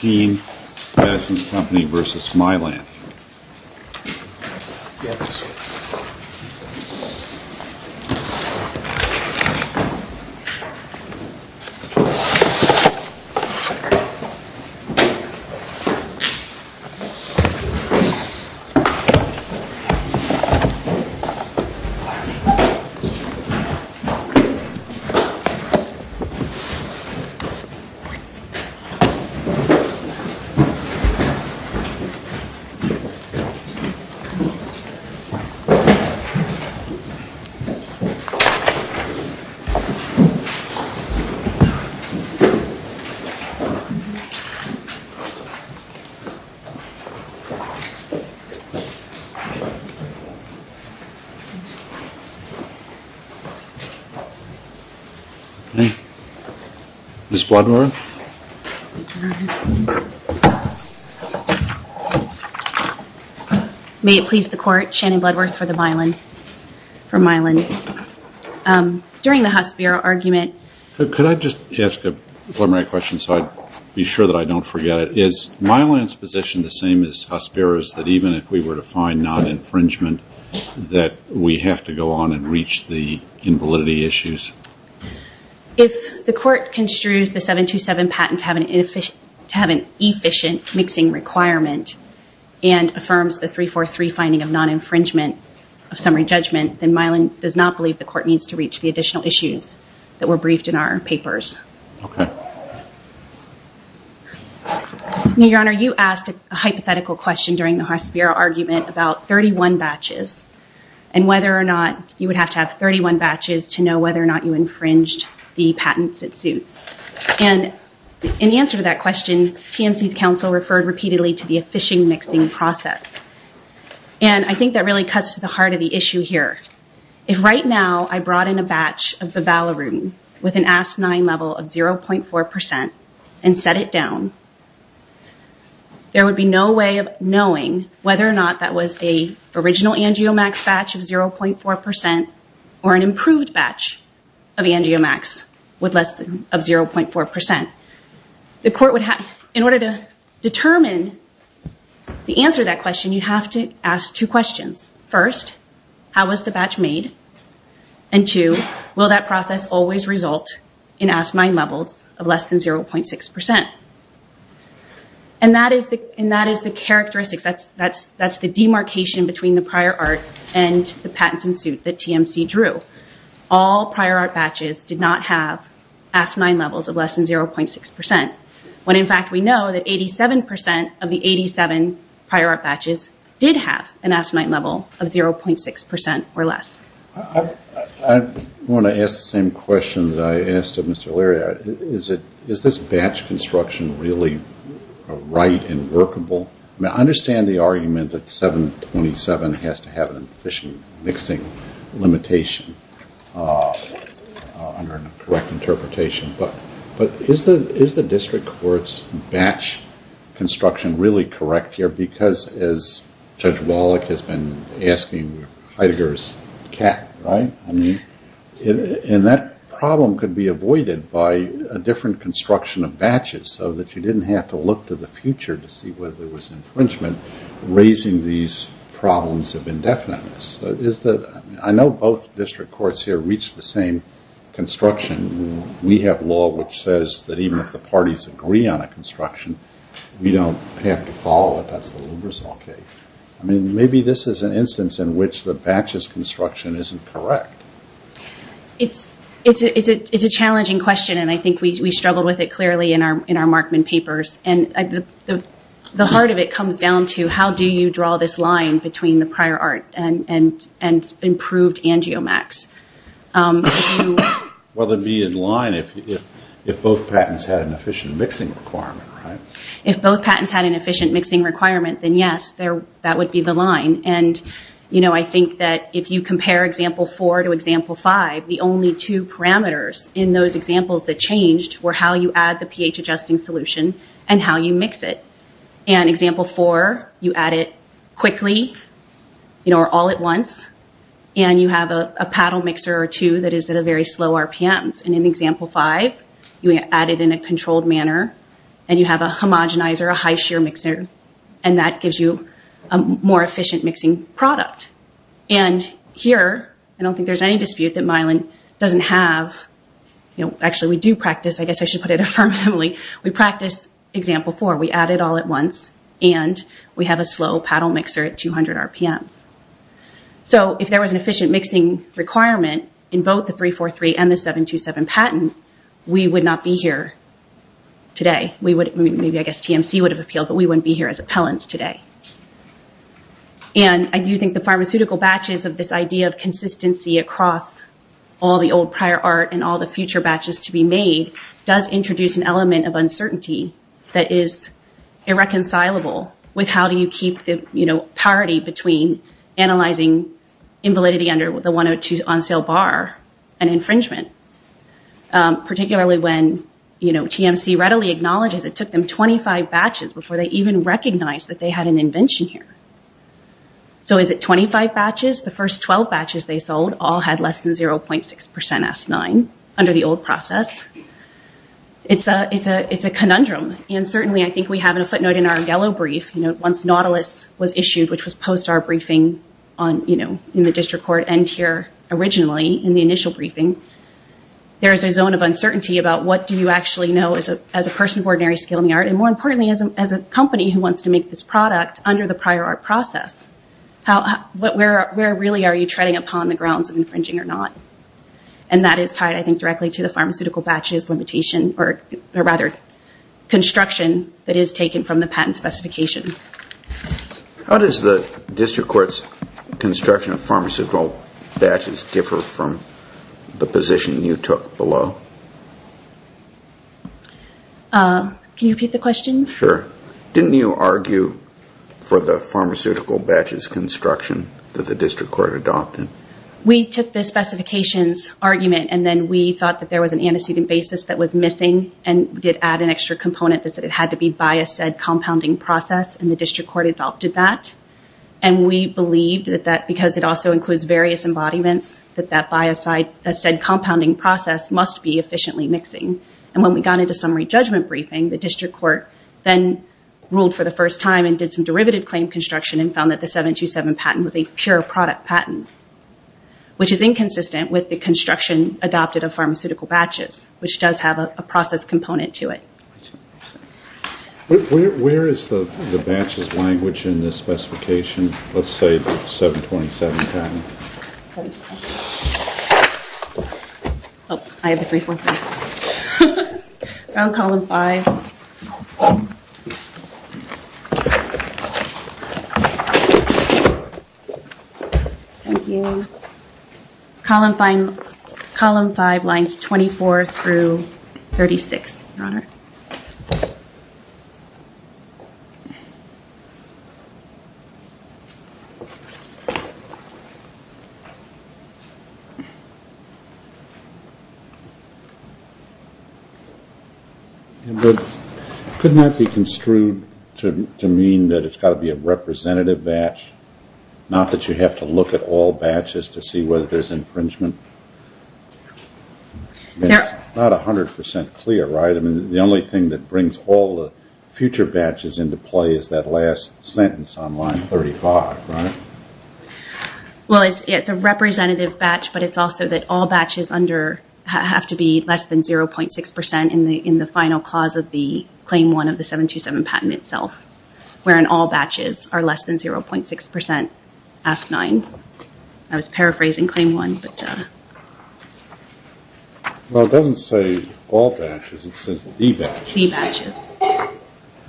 Team, Medicines Company v. Mylan. Hey, Ms. Wadmore. May it please the Court, Shannon Bloodworth for the Mylan, for Mylan. During the Huss-Biro argument... Could I just ask a preliminary question so I'd be sure that I don't forget it? Is Mylan's position the same as Huss-Biro's, that even if we were to find non-infringement, that we have to go on and reach the invalidity issues? If the Court construes the 727 patent to have an efficient mixing requirement and affirms the 343 finding of non-infringement of summary judgment, then Mylan does not believe the Court needs to reach the additional issues that were briefed in our papers. Okay. Now, Your Honor, you asked a hypothetical question during the Huss-Biro argument about 31 batches and whether or not you would have to have 31 batches to know whether or not you infringed the patents that suit. And in answer to that question, TMC's counsel referred repeatedly to the efficient mixing process. And I think that really cuts to the heart of the issue here. If right now I brought in a batch of Bivalarudin with an Asp9 level of 0.4% and set it down, there would be no way of knowing whether or not that was an original Angiomax batch of 0.4% or an improved batch of Angiomax with less than 0.4%. In order to determine the answer to that question, you have to ask two questions. First, how was the batch made? And two, will that process always result in Asp9 levels of less than 0.6%? And that is the characteristics. That's the demarcation between the prior art and the patents in suit that TMC drew. All prior art batches did not have Asp9 levels of less than 0.6%, when in fact we know that 87% of the 87 prior art batches did have an Asp9 level of 0.6% or less. I want to ask the same question that I asked of Mr. O'Leary. Is this batch construction really right and workable? I understand the argument that 727 has to have an efficient mixing limitation, under a correct interpretation, but is the district court's batch construction really correct here? Because, as Judge Wallach has been asking, Heidegger is cat, right? And that problem could be avoided by a different construction of batches, so that you didn't have to look to the future to see whether there was infringement raising these problems of indefiniteness. I know both district courts here reach the same construction. We have law which says that even if the parties agree on a construction, we don't have to follow it. That's the Lubrizol case. Maybe this is an instance in which the batches construction isn't correct. It's a challenging question, and I think we struggled with it clearly in our Markman papers. The heart of it comes down to how do you draw this line between the prior art and improved angiomax? Well, it would be in line if both patents had an efficient mixing requirement, right? If both patents had an efficient mixing requirement, then yes, that would be the line. I think that if you compare example four to example five, the only two parameters in those examples that changed were how you add the pH adjusting solution and how you mix it. In example four, you add it quickly or all at once, and you have a paddle mixer or two that is at a very slow RPMs. In example five, you add it in a controlled manner, and you have a homogenizer, a high-shear mixer, and that gives you a more efficient mixing product. Here, I don't think there's any dispute that Milan doesn't have... Example four, we add it all at once, and we have a slow paddle mixer at 200 RPMs. If there was an efficient mixing requirement in both the 343 and the 727 patent, we would not be here today. Maybe I guess TMC would have appealed, but we wouldn't be here as appellants today. I do think the pharmaceutical batches of this idea of consistency across all the old prior art and all the future batches to be made does introduce an element of uncertainty that is irreconcilable with how do you keep the parity between analyzing invalidity under the 102 on-sale bar and infringement. Particularly when TMC readily acknowledges it took them 25 batches before they even recognized that they had an invention here. So is it 25 batches? The first 12 batches they sold all had less than 0.6% S9 under the old process. It's a conundrum, and certainly I think we have a footnote in our yellow brief. Once Nautilus was issued, which was post our briefing in the district court and here originally in the initial briefing, there is a zone of uncertainty about what do you actually know as a person of ordinary skill in the art, and more importantly as a company who wants to make this product under the prior art process. Where really are you treading upon the grounds of infringing or not? And that is tied, I think, directly to the pharmaceutical batches limitation, or rather construction that is taken from the patent specification. How does the district court's construction of pharmaceutical batches differ from the position you took below? Can you repeat the question? Sure. Didn't you argue for the pharmaceutical batches construction that the district court adopted? We took the specifications argument and then we thought that there was an antecedent basis that was missing and did add an extra component that it had to be by a said compounding process, and the district court adopted that. And we believed that because it also includes various embodiments, that that by a said compounding process must be efficiently mixing. And when we got into summary judgment briefing, the district court then ruled for the first time and did some derivative claim construction and found that the 727 patent was a pure product patent, which is inconsistent with the construction adopted of pharmaceutical batches, which does have a process component to it. Where is the batches language in this specification? Let's say the 727 patent. I have the brief one. Round column five. Thank you. Column five lines 24 through 36, Your Honor. Couldn't that be construed to mean that it's got to be a representative batch, not that you have to look at all batches to see whether there's infringement? It's not 100% clear, right? The only thing that brings all the future batches into play is that last sentence on line 35, right? Well, it's a representative batch, but it's also that all batches have to be less than 0.6% in the final clause of the claim one of the 727 patent itself, wherein all batches are less than 0.6%. Ask nine. I was paraphrasing claim one. Well, it doesn't say all batches. It says e-batches.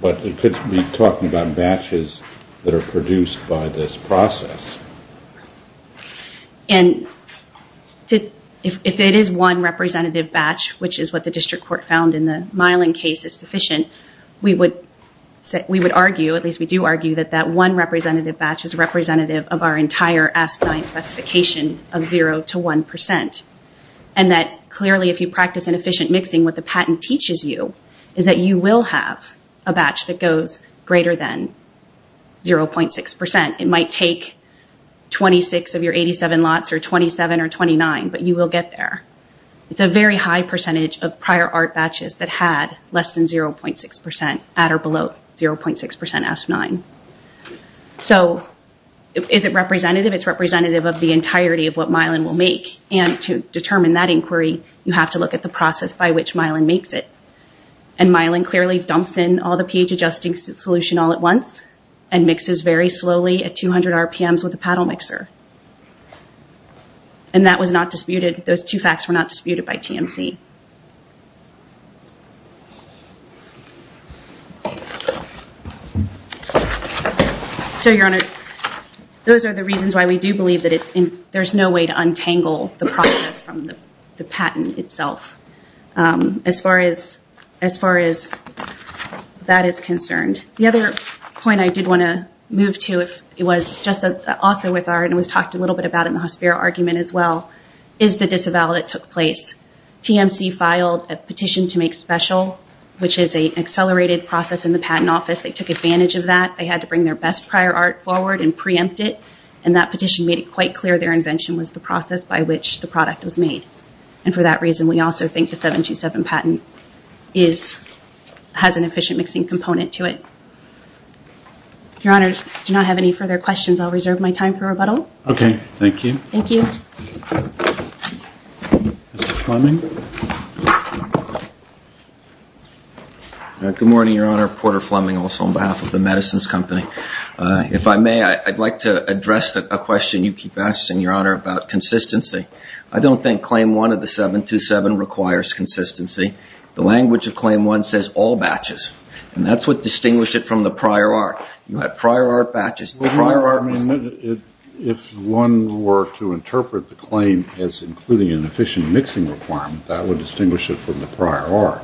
But it could be talking about batches that are produced by this process. And if it is one representative batch, which is what the district court found in the Myelin case is sufficient, we would argue, at least we do argue, that that one representative batch is representative of our entire Ask Nine specification of 0 to 1%. And that clearly if you practice inefficient mixing, what the patent teaches you is that you will have a batch that goes greater than 0.6%. It might take 26 of your 87 lots or 27 or 29, but you will get there. It's a very high percentage of prior art batches that had less than 0.6% at or below 0.6% Ask Nine. So is it representative? It's representative of the entirety of what Myelin will make. And to determine that inquiry, you have to look at the process by which Myelin makes it. And Myelin clearly dumps in all the pH adjusting solution all at once and mixes very slowly at 200 RPMs with a paddle mixer. And that was not disputed. Those two facts were not disputed by TMC. So, Your Honor, those are the reasons why we do believe that there's no way to untangle the process from the patent itself, as far as that is concerned. The other point I did want to move to if it was just also with our and was talked a little bit about in the Hospiro argument as well, is the disavowal that took place. TMC filed a petition to make special, which is an accelerated process in the patent office. They took advantage of that. They had to bring their best prior art forward and preempt it. And that petition made it quite clear their invention was the process by which the product was made. And for that reason, we also think the 727 patent has an efficient mixing component to it. Your Honor, if you do not have any further questions, I'll reserve my time for rebuttal. Okay. Thank you. Thank you. Mr. Fleming? Good morning, Your Honor. Porter Fleming also on behalf of the Medicines Company. If I may, I'd like to address a question you keep asking, Your Honor, about consistency. I don't think Claim 1 of the 727 requires consistency. The language of Claim 1 says all batches. And that's what distinguished it from the prior art. You have prior art batches. If one were to interpret the claim as including an efficient mixing requirement, that would distinguish it from the prior art.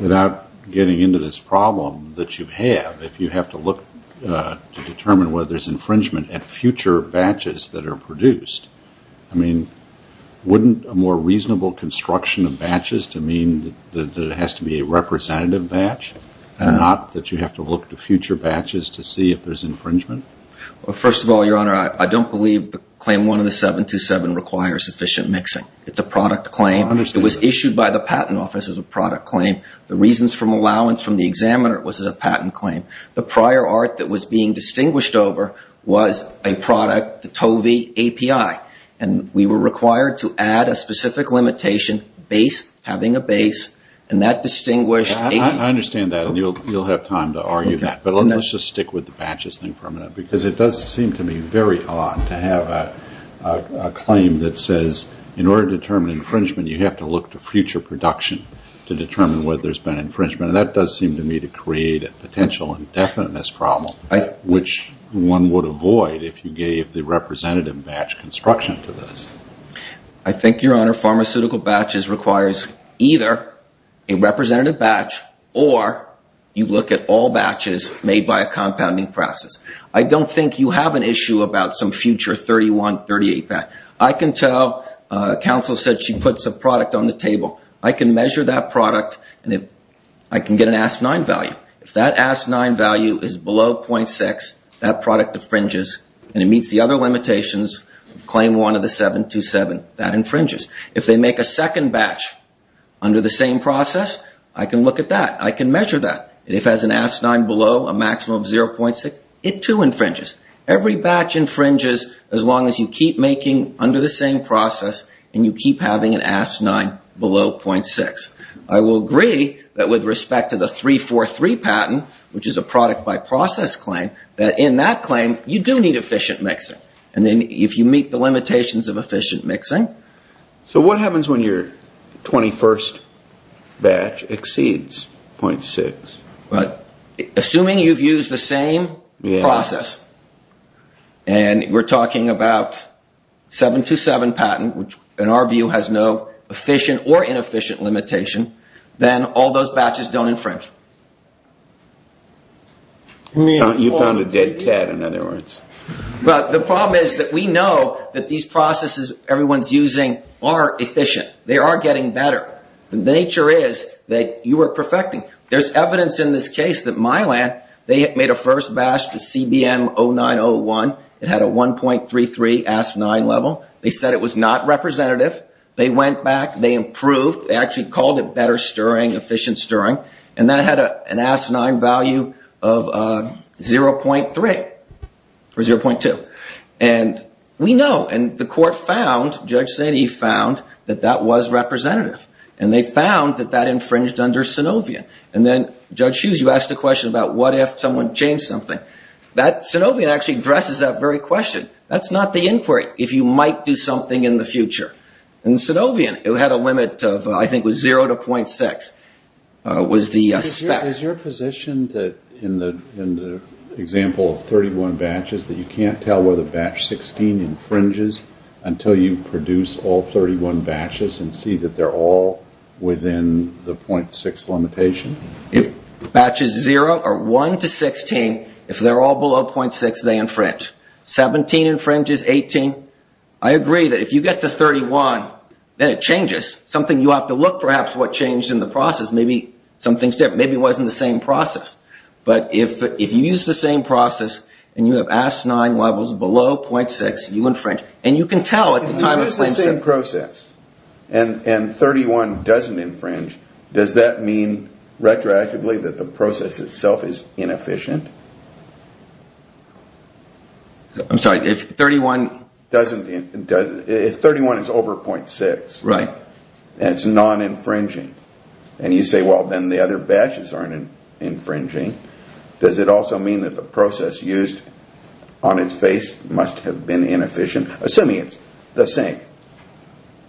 Without getting into this problem that you have, if you have to look to determine whether there's infringement at future batches that are produced, I mean, wouldn't a more reasonable construction of batches to mean that it has to be a representative batch and not that you have to look to future batches to see if there's infringement? Well, first of all, Your Honor, I don't believe Claim 1 of the 727 requires efficient mixing. It's a product claim. It was issued by the Patent Office as a product claim. The reasons for allowance from the examiner was a patent claim. The prior art that was being distinguished over was a product, the TOVI API. And we were required to add a specific limitation, having a base, and that distinguished API. I understand that, and you'll have time to argue that. But let's just stick with the batches thing for a minute, because it does seem to me very odd to have a claim that says in order to determine infringement, you have to look to future production to determine whether there's been infringement. And that does seem to me to create a potential indefiniteness problem, which one would avoid if you gave the representative batch construction to this. I think, Your Honor, pharmaceutical batches requires either a representative batch or you look at all batches made by a compounding process. I don't think you have an issue about some future 31, 38 batch. I can tell counsel said she puts a product on the table. I can measure that product, and I can get an AST-9 value. If that AST-9 value is below .6, that product infringes, and it meets the other limitations of Claim 1 of the 727. That infringes. If they make a second batch under the same process, I can look at that. I can measure that. If it has an AST-9 below a maximum of 0.6, it too infringes. Every batch infringes as long as you keep making under the same process and you keep having an AST-9 below 0.6. I will agree that with respect to the 343 patent, which is a product by process claim, that in that claim, you do need efficient mixing. If you meet the limitations of efficient mixing. So what happens when your 21st batch exceeds 0.6? Assuming you've used the same process, and we're talking about 727 patent, which in our view has no efficient or inefficient limitation, then all those batches don't infringe. You found a dead cat, in other words. But the problem is that we know that these processes everyone's using are efficient. They are getting better. The nature is that you are perfecting. There's evidence in this case that Mylan, they made a first batch to CBM 0901. It had a 1.33 AST-9 level. They said it was not representative. They went back. They improved. They actually called it better stirring, efficient stirring. And that had an AST-9 value of 0.3 or 0.2. And we know. And the court found, Judge Sandy found, that that was representative. And they found that that infringed under Synovion. And then, Judge Hughes, you asked a question about what if someone changed something. Synovion actually addresses that very question. That's not the inquiry, if you might do something in the future. In Synovion, it had a limit of, I think it was 0 to 0.6, was the spec. Is your position that in the example of 31 batches, that you can't tell whether batch 16 infringes until you produce all 31 batches and see that they're all within the 0.6 limitation? If batches 0 or 1 to 16, if they're all below 0.6, they infringe. 17 infringes, 18. I agree that if you get to 31, then it changes. Something you have to look, perhaps, at what changed in the process. Maybe something's different. Maybe it wasn't the same process. But if you use the same process and you have AST-9 levels below 0.6, you infringe. If you use the same process and 31 doesn't infringe, does that mean retroactively that the process itself is inefficient? I'm sorry, if 31 is over 0.6, it's non-infringing. You say, well, then the other batches aren't infringing. Does it also mean that the process used on its face must have been inefficient, assuming it's the same,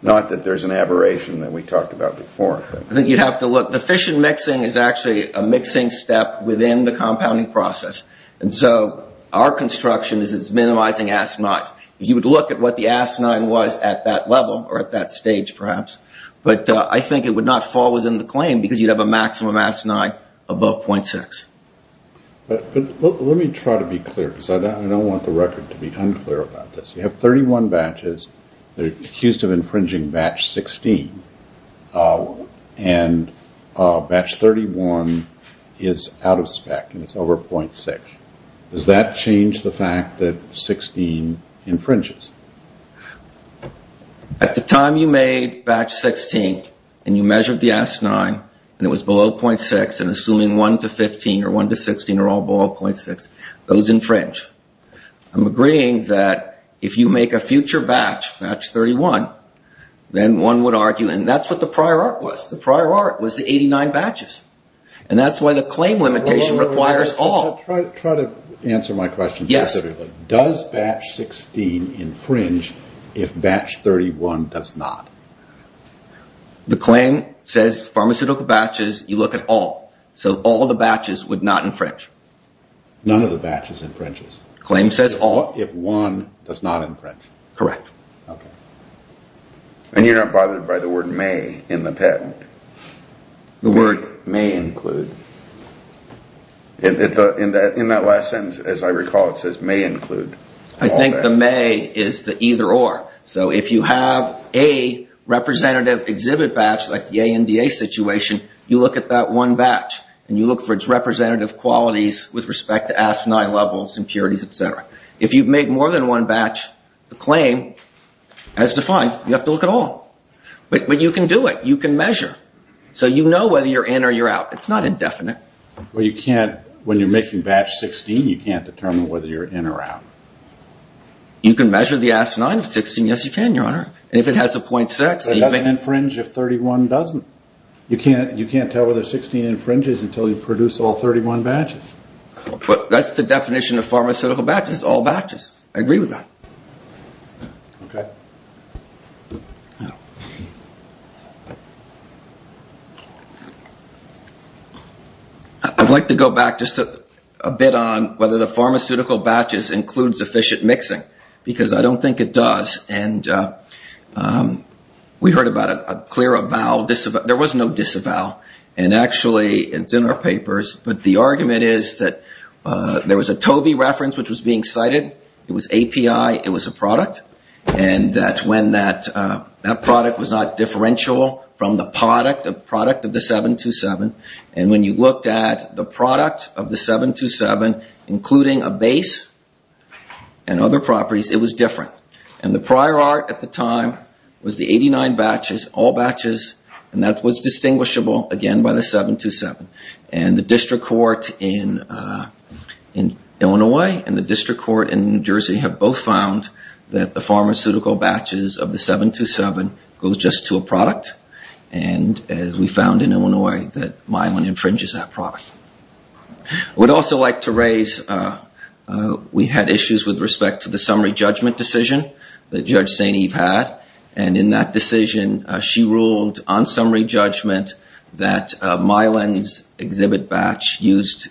not that there's an aberration that we talked about before? I think you'd have to look. The fission mixing is actually a mixing step within the compounding process. And so our construction is minimizing AST-9s. If you would look at what the AST-9 was at that level, or at that stage perhaps, but I think it would not fall within the claim because you'd have a maximum AST-9 above 0.6. But let me try to be clear because I don't want the record to be unclear about this. You have 31 batches that are accused of infringing batch 16, and batch 31 is out of spec and it's over 0.6. Does that change the fact that 16 infringes? At the time you made batch 16 and you measured the AST-9 and it was below 0.6 and assuming 1 to 15 or 1 to 16 are all below 0.6, those infringe. I'm agreeing that if you make a future batch, batch 31, then one would argue, and that's what the prior art was. The prior art was the 89 batches. And that's why the claim limitation requires all. I'll try to answer my question specifically. Does batch 16 infringe if batch 31 does not? The claim says pharmaceutical batches, you look at all. So all the batches would not infringe. None of the batches infringes. Claim says all. If one does not infringe. Correct. Okay. And you're not bothered by the word may in the patent. The word may include. In that last sentence, as I recall, it says may include. I think the may is the either or. So if you have a representative exhibit batch like the ANDA situation, you look at that one batch and you look for its representative qualities with respect to AST-9 levels, impurities, et cetera. If you've made more than one batch, the claim, as defined, you have to look at all. But you can do it. You can measure. So you know whether you're in or you're out. It's not indefinite. Well, you can't. When you're making batch 16, you can't determine whether you're in or out. You can measure the AST-9 of 16. Yes, you can, Your Honor. And if it has a .6. It doesn't infringe if 31 doesn't. You can't tell whether 16 infringes until you produce all 31 batches. But that's the definition of pharmaceutical batches, all batches. I agree with that. Okay. I'd like to go back just a bit on whether the pharmaceutical batches include sufficient mixing. Because I don't think it does. And we heard about a clear avowal. There was no disavowal. And actually it's in our papers. But the argument is that there was a TOBI reference which was being cited. It was API. It was a product. And that when that product was not differential from the product of the 727. And when you looked at the product of the 727, including a base and other properties, it was different. And the prior art at the time was the 89 batches, all batches. And that was distinguishable, again, by the 727. And the district court in Illinois and the district court in New Jersey have both found that the pharmaceutical batches of the 727 goes just to a product. And we found in Illinois that myelin infringes that product. I would also like to raise, we had issues with respect to the summary judgment decision that Judge St. Eve had. And in that decision, she ruled on summary judgment that myelin's exhibit batch used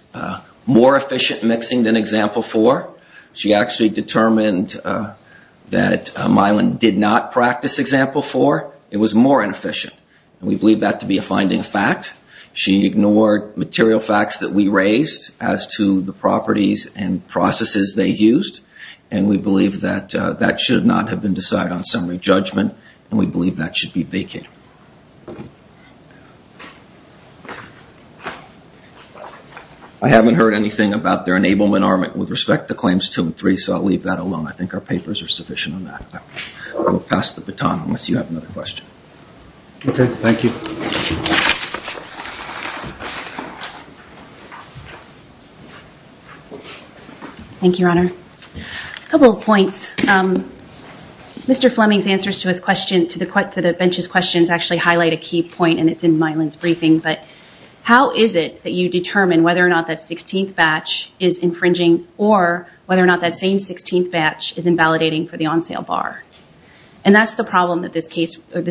more efficient mixing than example 4. She actually determined that myelin did not practice example 4. It was more inefficient. And we believe that to be a finding fact. She ignored material facts that we raised as to the properties and processes they used. And we believe that that should not have been decided on summary judgment. And we believe that should be vacated. I haven't heard anything about their enablement armament with respect to claims 2 and 3, so I'll leave that alone. I think our papers are sufficient on that. I will pass the baton unless you have another question. Okay, thank you. Thank you, Your Honor. A couple of points. Mr. Fleming's answers to the bench's questions actually highlight a key point, and it's in myelin's briefing. But how is it that you determine whether or not that 16th batch is infringing or whether or not that same 16th batch is invalidating for the on-sale bar? And that's the problem that this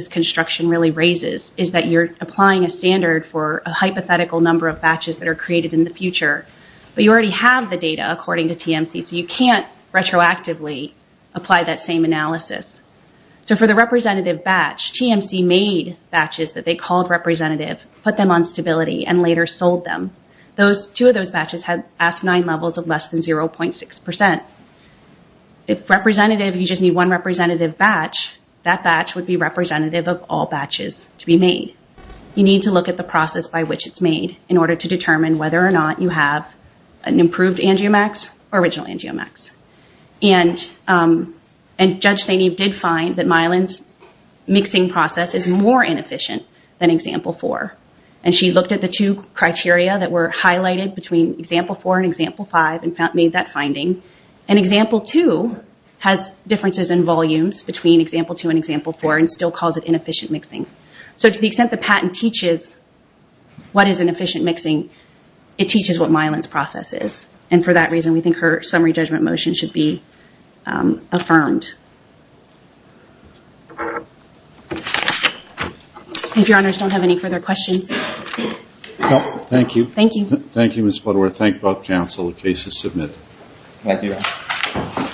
construction really raises, is that you're applying a standard for a hypothetical number of batches that are created in the future, but you already have the data according to TMC, so you can't retroactively apply that same analysis. So for the representative batch, TMC made batches that they called representative, put them on stability, and later sold them. Two of those batches had ASP9 levels of less than 0.6%. If representative, you just need one representative batch, that batch would be representative of all batches to be made. You need to look at the process by which it's made in order to determine whether or not you have an improved angiomax or original angiomax. And Judge Saineev did find that myelin's mixing process is more inefficient than Example 4. And she looked at the two criteria that were highlighted between Example 4 and Example 5 and made that finding. And Example 2 has differences in volumes between Example 2 and Example 4 and still calls it inefficient mixing. So to the extent the patent teaches what is inefficient mixing, it teaches what myelin's process is. And for that reason, we think her summary judgment motion should be affirmed. If Your Honors don't have any further questions. Thank you. Thank you. Thank you, Ms. Butterworth. And I thank both counsel the case is submitted. Thank you.